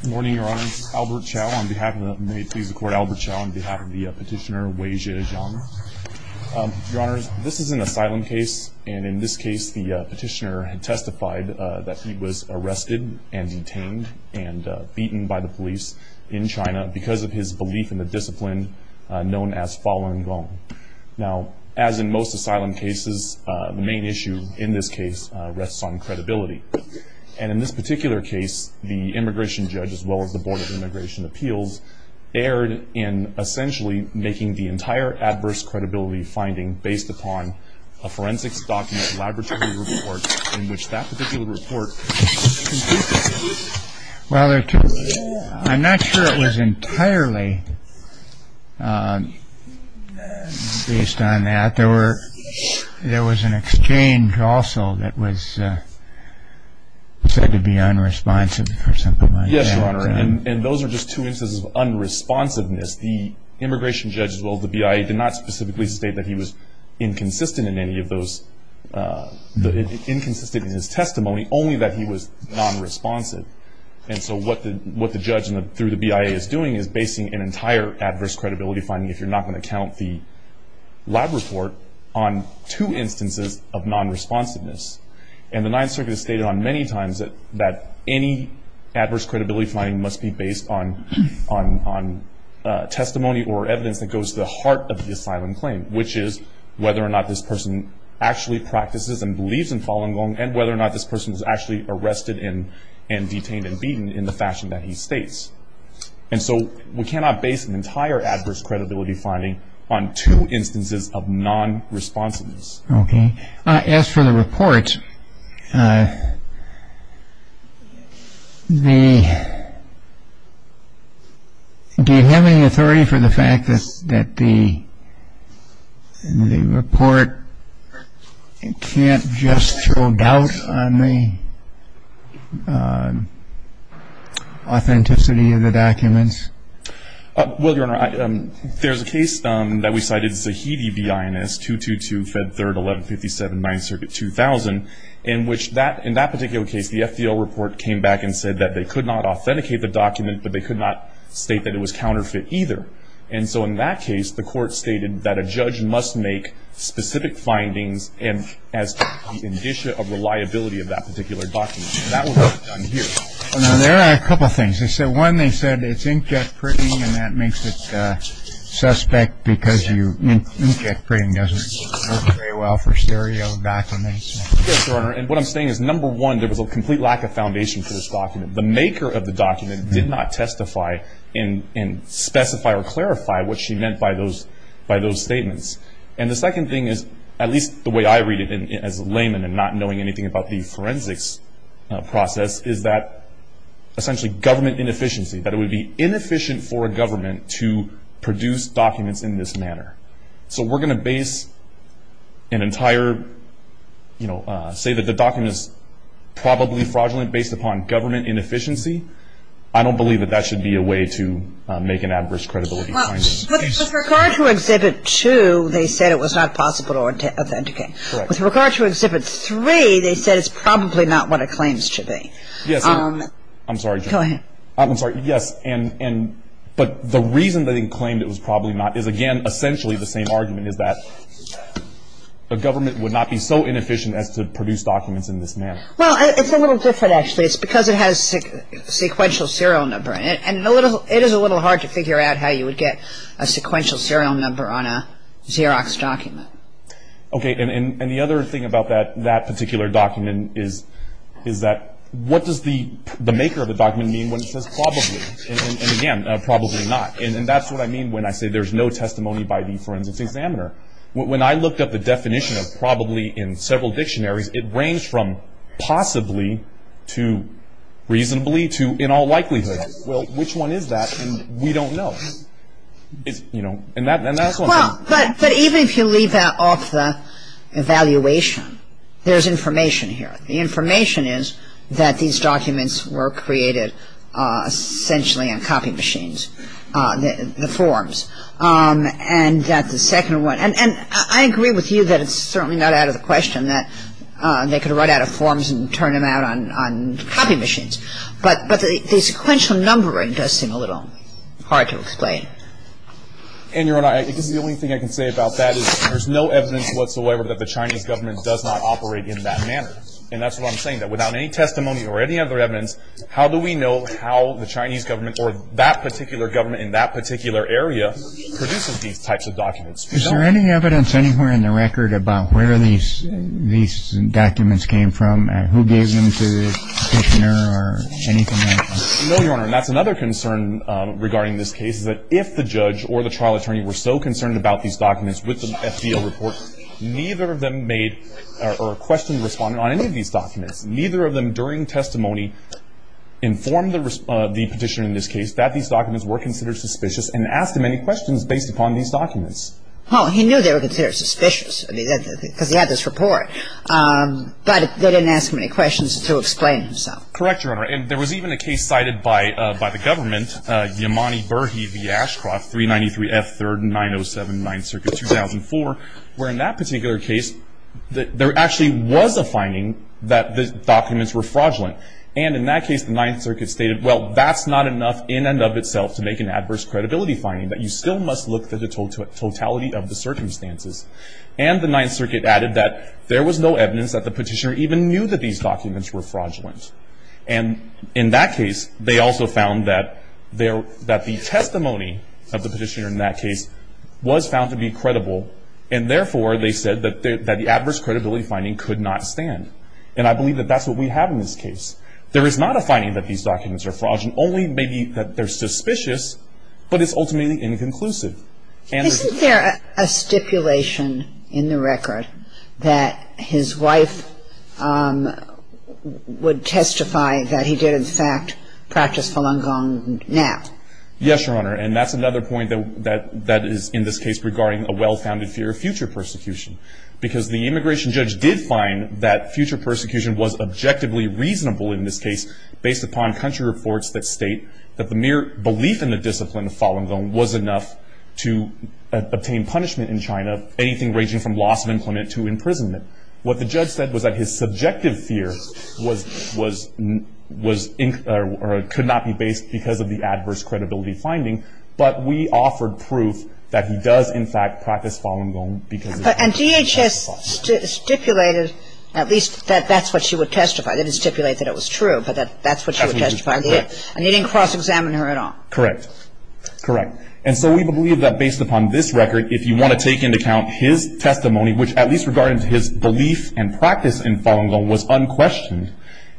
Good morning, Your Honor. This is Albert Chow. On behalf of the Petitioner Weijie Jiang. Your Honor, this is an asylum case, and in this case the petitioner had testified that he was arrested and detained and beaten by the police in China because of his belief in the discipline known as Falun Gong. Now, as in most asylum cases, the main issue in this case rests on credibility. And in this particular case, the immigration judge as well as the Board of Immigration Appeals erred in essentially making the entire adverse credibility finding based upon a forensics document laboratory report in which that particular report was concluded. Well, I'm not sure it was entirely based on that. There was an exchange also that was said to be unresponsive or something like that. Yes, Your Honor, and those are just two instances of unresponsiveness. The immigration judge as well as the BIA did not specifically state that he was inconsistent in his testimony, only that he was nonresponsive. And so what the judge through the BIA is doing is basing an entire adverse credibility finding, if you're not going to count the lab report, on two instances of nonresponsiveness. And the Ninth Circuit has stated on many times that any adverse credibility finding must be based on testimony or evidence that goes to the heart of the asylum claim, which is whether or not this person actually practices and believes in Falun Gong and whether or not this person was actually arrested and detained and beaten in the fashion that he states. And so we cannot base an entire adverse credibility finding on two instances of nonresponsiveness. As for the report, do you have any authority for the fact that the report can't just show doubt on the authenticity of the documents? Well, Your Honor, there's a case that we cited, Zahidi v. INS 222, Fed 3rd, 1157, 9th Circuit, 2000, in which in that particular case, the FDL report came back and said that they could not authenticate the document, but they could not state that it was counterfeit either. And so in that case, the court stated that a judge must make specific findings as to the indicia of reliability of that particular document. And that was done here. Now, there are a couple of things. One, they said it's inkjet printing, and that makes it suspect because inkjet printing doesn't work very well for stereo documents. Yes, Your Honor. And what I'm saying is, number one, there was a complete lack of foundation for this document. The maker of the document did not testify and specify or clarify what she meant by those statements. And the second thing is, at least the way I read it as a layman and not knowing anything about the forensics process, is that essentially government inefficiency, that it would be inefficient for a government to produce documents in this manner. So we're going to base an entire, you know, say that the document is probably fraudulent based upon government inefficiency? I don't believe that that should be a way to make an adverse credibility finding. Well, with regard to Exhibit 2, they said it was not possible to authenticate. Correct. With regard to Exhibit 3, they said it's probably not what it claims to be. Yes, Your Honor. I'm sorry, Your Honor. Go ahead. I'm sorry. Yes, but the reason that they claimed it was probably not is, again, essentially the same argument is that a government would not be so inefficient as to produce documents in this manner. Well, it's a little different, actually. It's because it has a sequential serial number, and it is a little hard to figure out how you would get a sequential serial number on a Xerox document. Okay, and the other thing about that particular document is that what does the maker of the document mean when it says probably, and again, probably not? And that's what I mean when I say there's no testimony by the forensics examiner. When I looked up the definition of probably in several dictionaries, it ranged from possibly to reasonably to in all likelihood. Well, which one is that? And we don't know. You know, and that's one thing. Well, but even if you leave that off the evaluation, there's information here. The information is that these documents were created essentially on copy machines, the forms. And that the second one, and I agree with you that it's certainly not out of the question that they could write out of forms and turn them out on copy machines. But the sequential numbering does seem a little hard to explain. And, Your Honor, I guess the only thing I can say about that is there's no evidence whatsoever that the Chinese government does not operate in that manner. And that's what I'm saying, that without any testimony or any other evidence, how do we know how the Chinese government or that particular government in that particular area produces these types of documents? Is there any evidence anywhere in the record about where these documents came from and who gave them to the petitioner or anything like that? No, Your Honor, and that's another concern regarding this case, is that if the judge or the trial attorney were so concerned about these documents with the FDL report, neither of them made or questioned the respondent on any of these documents. Neither of them during testimony informed the petitioner in this case that these documents were considered suspicious and asked him any questions based upon these documents. Well, he knew they were considered suspicious because he had this report. But they didn't ask him any questions to explain himself. Correct, Your Honor, and there was even a case cited by the government, Yamani Berhe v. Ashcroft, 393 F. 3rd and 907 9th Circuit, 2004, where in that particular case, there actually was a finding that the documents were fraudulent. And in that case, the 9th Circuit stated, well, that's not enough in and of itself to make an adverse credibility finding, that you still must look for the totality of the circumstances. And the 9th Circuit added that there was no evidence that the petitioner even knew that these documents were fraudulent. And in that case, they also found that the testimony of the petitioner in that case was found to be credible, and therefore, they said that the adverse credibility finding could not stand. And I believe that that's what we have in this case. There is not a finding that these documents are fraudulent, only maybe that they're suspicious, but it's ultimately inconclusive. And there's Isn't there a stipulation in the record that his wife would testify that he did, in fact, practice Falun Gong now? Yes, Your Honor, and that's another point that is, in this case, regarding a well-founded fear of future persecution. Because the immigration judge did find that future persecution was objectively reasonable in this case based upon country reports that state that the mere belief in the discipline of Falun Gong was enough to obtain punishment in China, anything ranging from loss of employment to imprisonment. What the judge said was that his subjective fear was, was, was, or could not be based because of the adverse credibility finding. But we offered proof that he does, in fact, practice Falun Gong because of his And DHS stipulated, at least, that that's what she would testify. They didn't stipulate that it was true, but that that's what she would testify. And they didn't cross-examine her at all? Correct. Correct. And so we believe that based upon this record, if you want to take into account his testimony, which at least regarding his belief and practice in Falun Gong was unquestioned,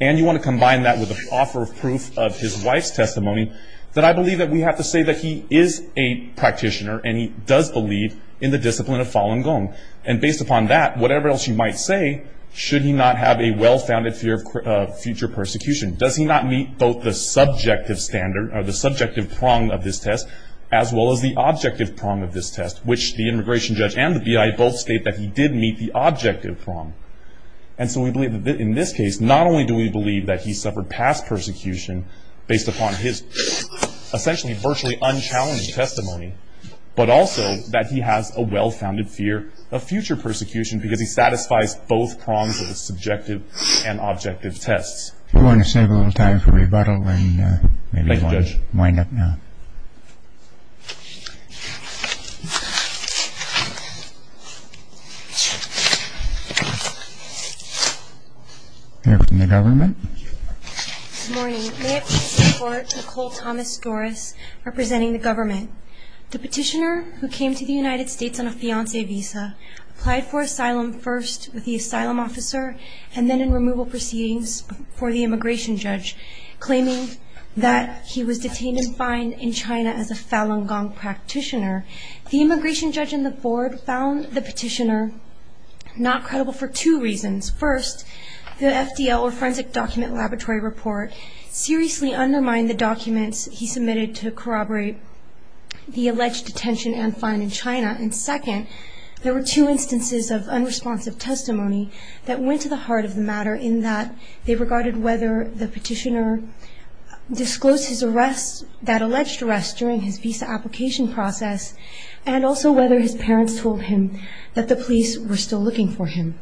and you want to combine that with the offer of proof of his wife's testimony, that I believe that we have to say that he is a practitioner, and he does believe in the discipline of Falun Gong. And based upon that, whatever else you might say, should he not have a well-founded fear of future persecution? Does he not meet both the subjective standard, or the subjective prong of this test, as well as the objective prong of this test, which the immigration judge and the BIA both state that he did meet the objective prong. And so we believe that in this case, not only do we believe that he suffered past persecution based upon his essentially virtually unchallenged testimony, but also that he has a well-founded fear of future persecution because he satisfies both prongs of the subjective and objective tests. I want to save a little time for rebuttal and maybe wind up now. Thank you, Judge. Here from the government. Good morning. May it please the Court, Nicole Thomas-Doris representing the government. The petitioner who came to the United States on a fiancé visa applied for asylum first with the asylum officer and then in removal proceedings for the immigration judge, claiming that he was detained and fined in China as a Falun Gong practitioner. The immigration judge and the board found the petitioner not credible for two reasons. First, the FDL, or Forensic Document Laboratory report, seriously undermined the documents he submitted to corroborate the alleged detention and fine in China. And second, there were two instances of unresponsive testimony that went to the heart of the matter in that they regarded whether the petitioner disclosed his arrest, that alleged arrest during his visa application process, and also whether his parents told him that the police were still looking for him.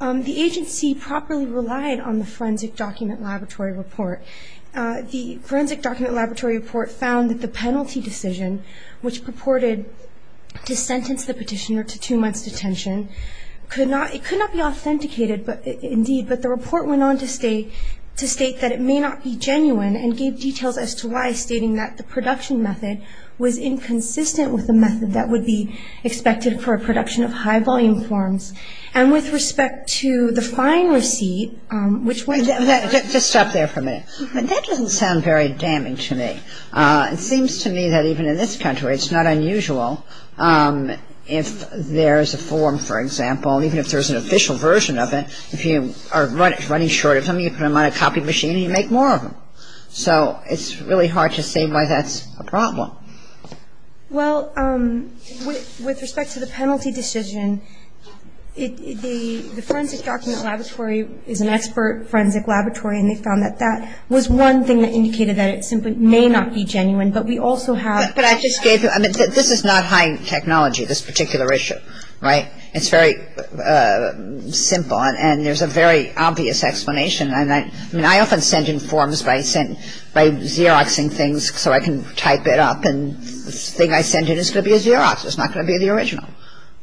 The agency properly relied on the Forensic Document Laboratory report. The Forensic Document Laboratory report found that the penalty decision, which purported to sentence the petitioner to two months' detention, could not be authenticated, indeed, but the report went on to state that it may not be genuine and gave details as to why, stating that the production method was inconsistent with the method that would be expected for a production of high-volume forms. And with respect to the fine receipt, which was the first one. Just stop there for a minute. That doesn't sound very damning to me. It seems to me that even in this country it's not unusual if there's a form, for example, even if there's an official version of it, if you are running short of something, you put them on a copy machine and you make more of them. So it's really hard to say why that's a problem. Well, with respect to the penalty decision, the Forensic Document Laboratory is an expert forensic laboratory and they found that that was one thing that indicated that it simply may not be genuine, but we also have. But I just gave you. I mean, this is not high technology, this particular issue. Right? It's very simple and there's a very obvious explanation. I mean, I often send in forms by Xeroxing things so I can type it up and the thing I send in is going to be a Xerox. It's not going to be the original.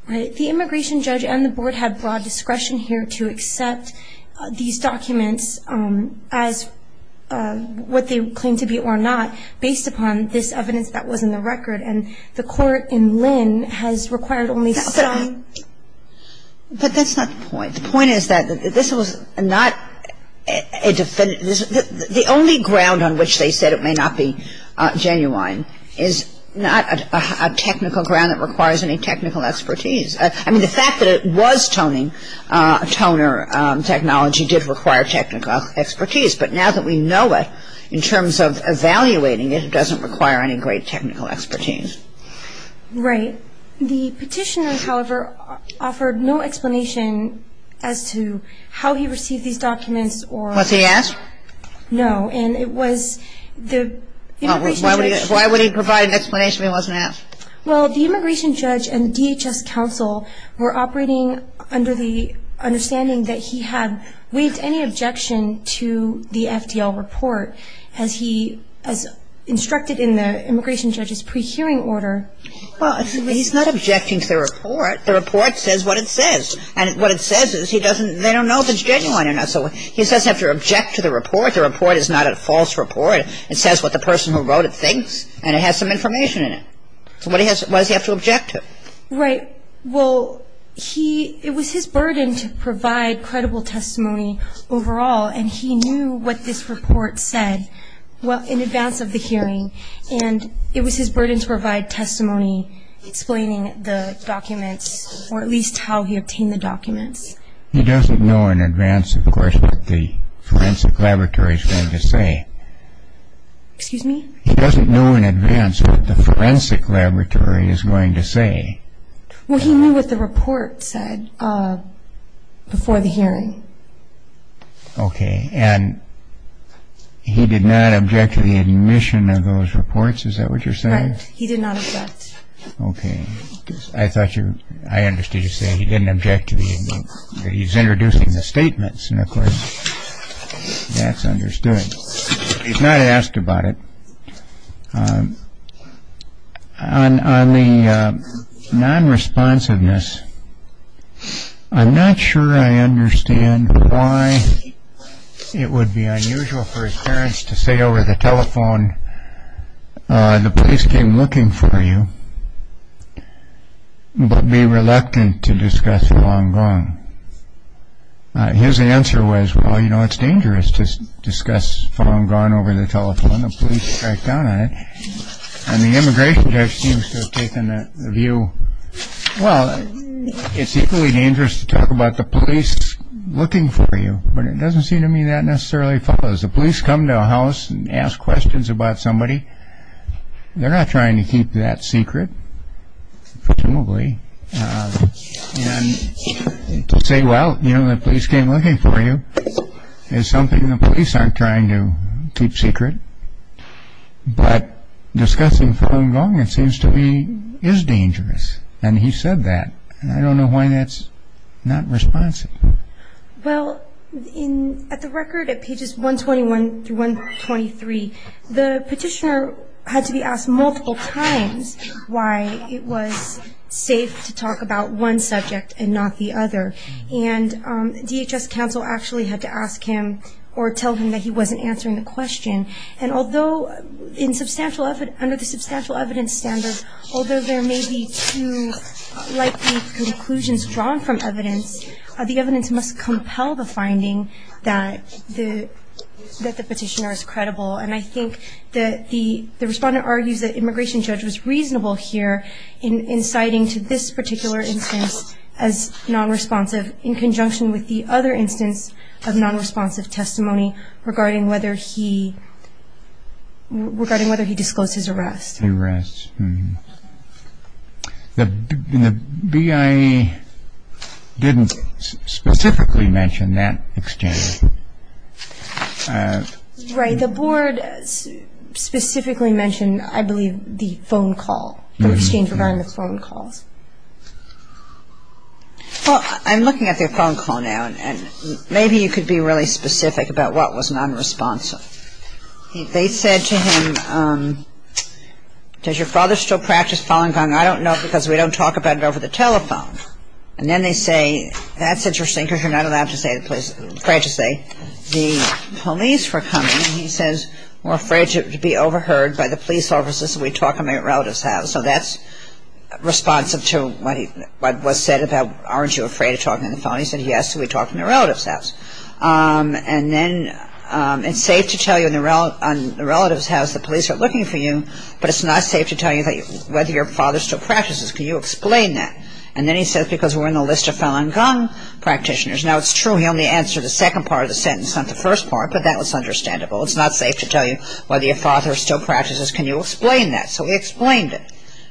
The immigration judge and the board have broad discretion here to accept these documents as what they claim to be or not based upon this evidence that was in the record and the court in Lynn has required only some. But that's not the point. The point is that this was not a definitive. The only ground on which they said it may not be genuine is not a technical ground that requires any technical expertise. I mean, the fact that it was toning, toner technology did require technical expertise, but now that we know it in terms of evaluating it, it doesn't require any great technical expertise. Right. The petitioner, however, offered no explanation as to how he received these documents or... Was he asked? No. And it was the immigration judge... Why would he provide an explanation if he wasn't asked? Well, the immigration judge and DHS counsel were operating under the understanding that he had waived any objection to the FDL report as instructed in the immigration judge's pre-hearing order. Well, he's not objecting to the report. The report says what it says, and what it says is they don't know if it's genuine or not. So he doesn't have to object to the report. The report is not a false report. It says what the person who wrote it thinks, and it has some information in it. So why does he have to object to it? Right. Well, it was his burden to provide credible testimony overall, and he knew what this report said in advance of the hearing, and it was his burden to provide testimony explaining the documents or at least how he obtained the documents. He doesn't know in advance, of course, what the forensic laboratory is going to say. Excuse me? He doesn't know in advance what the forensic laboratory is going to say. Well, he knew what the report said before the hearing. Okay. And he did not object to the admission of those reports? Is that what you're saying? Right. He did not object. Okay. I thought you were – I understood you saying he didn't object to the – he's introducing the statements, and of course that's understood. He's not asked about it. On the non-responsiveness, I'm not sure I understand why it would be unusual for his parents to say over the telephone, the police came looking for you, but be reluctant to discuss Falun Gong. His answer was, well, you know, it's dangerous to discuss Falun Gong over the telephone. The police tracked down on it, and the immigration judge seems to have taken the view, well, it's equally dangerous to talk about the police looking for you, but it doesn't seem to me that necessarily follows. The police come to a house and ask questions about somebody. They're not trying to keep that secret, presumably, and say, well, you know, the police came looking for you. It's something the police aren't trying to keep secret, but discussing Falun Gong, it seems to me, is dangerous, and he said that. I don't know why that's not responsive. Well, at the record, at pages 121 through 123, the petitioner had to be asked multiple times why it was safe to talk about one subject and not the other, and DHS counsel actually had to ask him or tell him that he wasn't answering the question, and although under the substantial evidence standard, although there may be two likely conclusions drawn from evidence, the evidence must compel the finding that the petitioner is credible, and I think that the respondent argues that immigration judge was reasonable here in citing to this particular instance as nonresponsive in conjunction with the other instance of nonresponsive testimony regarding whether he disclosed his arrest. The BIA didn't specifically mention that exchange. Right. The board specifically mentioned, I believe, the phone call, the exchange regarding the phone calls. Well, I'm looking at their phone call now, and maybe you could be really specific about what was nonresponsive. They said to him, does your father still practice Falun Gong? I don't know because we don't talk about it over the telephone. And then they say, that's interesting because you're not allowed to say the place, the police were coming and he says we're afraid to be overheard by the police officers if we talk in my relative's house. So that's responsive to what was said about aren't you afraid of talking to the phone. He said yes, so we talked in the relative's house. And then it's safe to tell you in the relative's house the police are looking for you, but it's not safe to tell you whether your father still practices. Can you explain that? And then he says because we're on the list of Falun Gong practitioners. Now, it's true he only answered the second part of the sentence, not the first part, but that was understandable. It's not safe to tell you whether your father still practices. Can you explain that? So he explained it.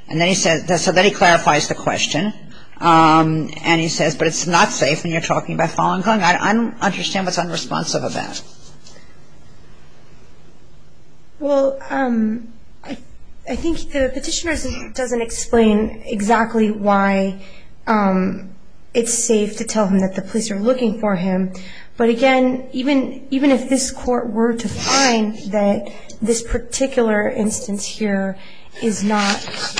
And then he said, so then he clarifies the question. And he says, but it's not safe when you're talking about Falun Gong. I don't understand what's unresponsive about it. Well, I think the petitioner doesn't explain exactly why it's safe to tell him that the police are looking for him. But again, even if this court were to find that this particular instance here is not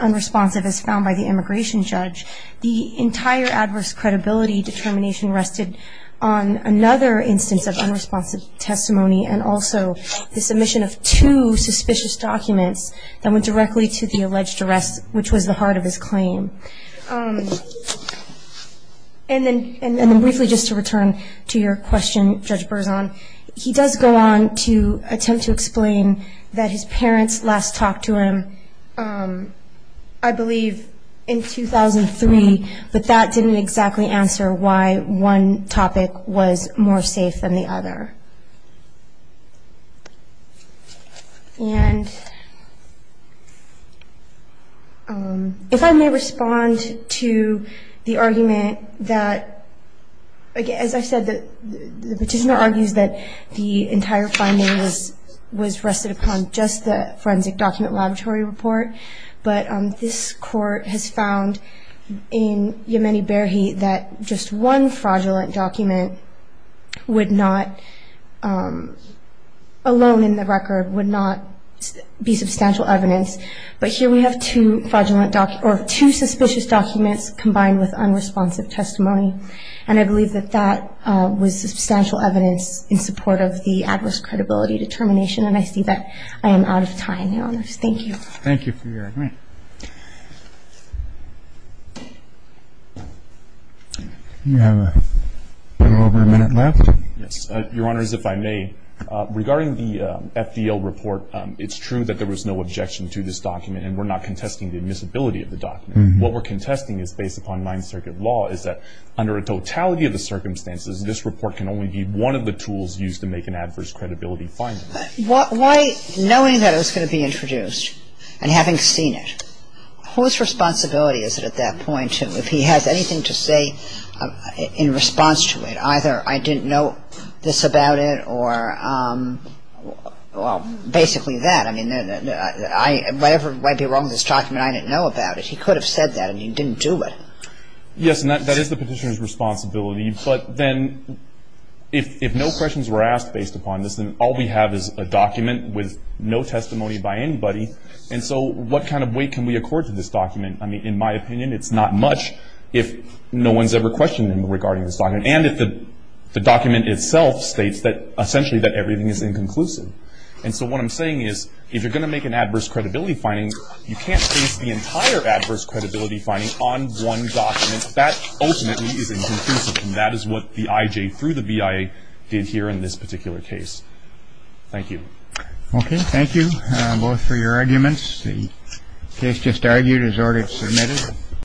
unresponsive as found by the immigration judge, the entire adverse credibility determination rested on another instance of unresponsive testimony and also the submission of two suspicious documents that went directly to the alleged arrest, which was the heart of his claim. And then briefly just to return to your question, Judge Berzon, he does go on to attempt to explain that his parents last talked to him, I believe, in 2003, but that didn't exactly answer why one topic was more safe than the other. And if I may respond to the argument that, as I said, the petitioner argues that the entire finding was rested upon just the forensic document laboratory report, but this court has found in Yemeni Berhe that just one fraudulent document alone in the record would not be substantial evidence. But here we have two suspicious documents combined with unresponsive testimony, and I believe that that was substantial evidence in support of the adverse credibility determination, and I see that I am out of time, Your Honor. Thank you. Thank you for your time. You have a little over a minute left. Yes, Your Honors, if I may, regarding the FDL report, it's true that there was no objection to this document and we're not contesting the admissibility of the document. What we're contesting is based upon Ninth Circuit law is that under a totality of the circumstances, this report can only be one of the tools used to make an adverse credibility finding. Why, knowing that it was going to be introduced and having seen it, whose responsibility is it at that point? If he has anything to say in response to it, either I didn't know this about it or, well, basically that. I mean, whatever might be wrong with this document, I didn't know about it. He could have said that and he didn't do it. Yes, and that is the petitioner's responsibility. But then if no questions were asked based upon this, then all we have is a document with no testimony by anybody, and so what kind of weight can we accord to this document? I mean, in my opinion, it's not much if no one's ever questioned him regarding this document and if the document itself states that essentially that everything is inconclusive. And so what I'm saying is if you're going to make an adverse credibility finding, you can't base the entire adverse credibility finding on one document. That ultimately is inconclusive, and that is what the IJ through the BIA did here in this particular case. Thank you. Okay, thank you both for your arguments. The case just argued is already submitted.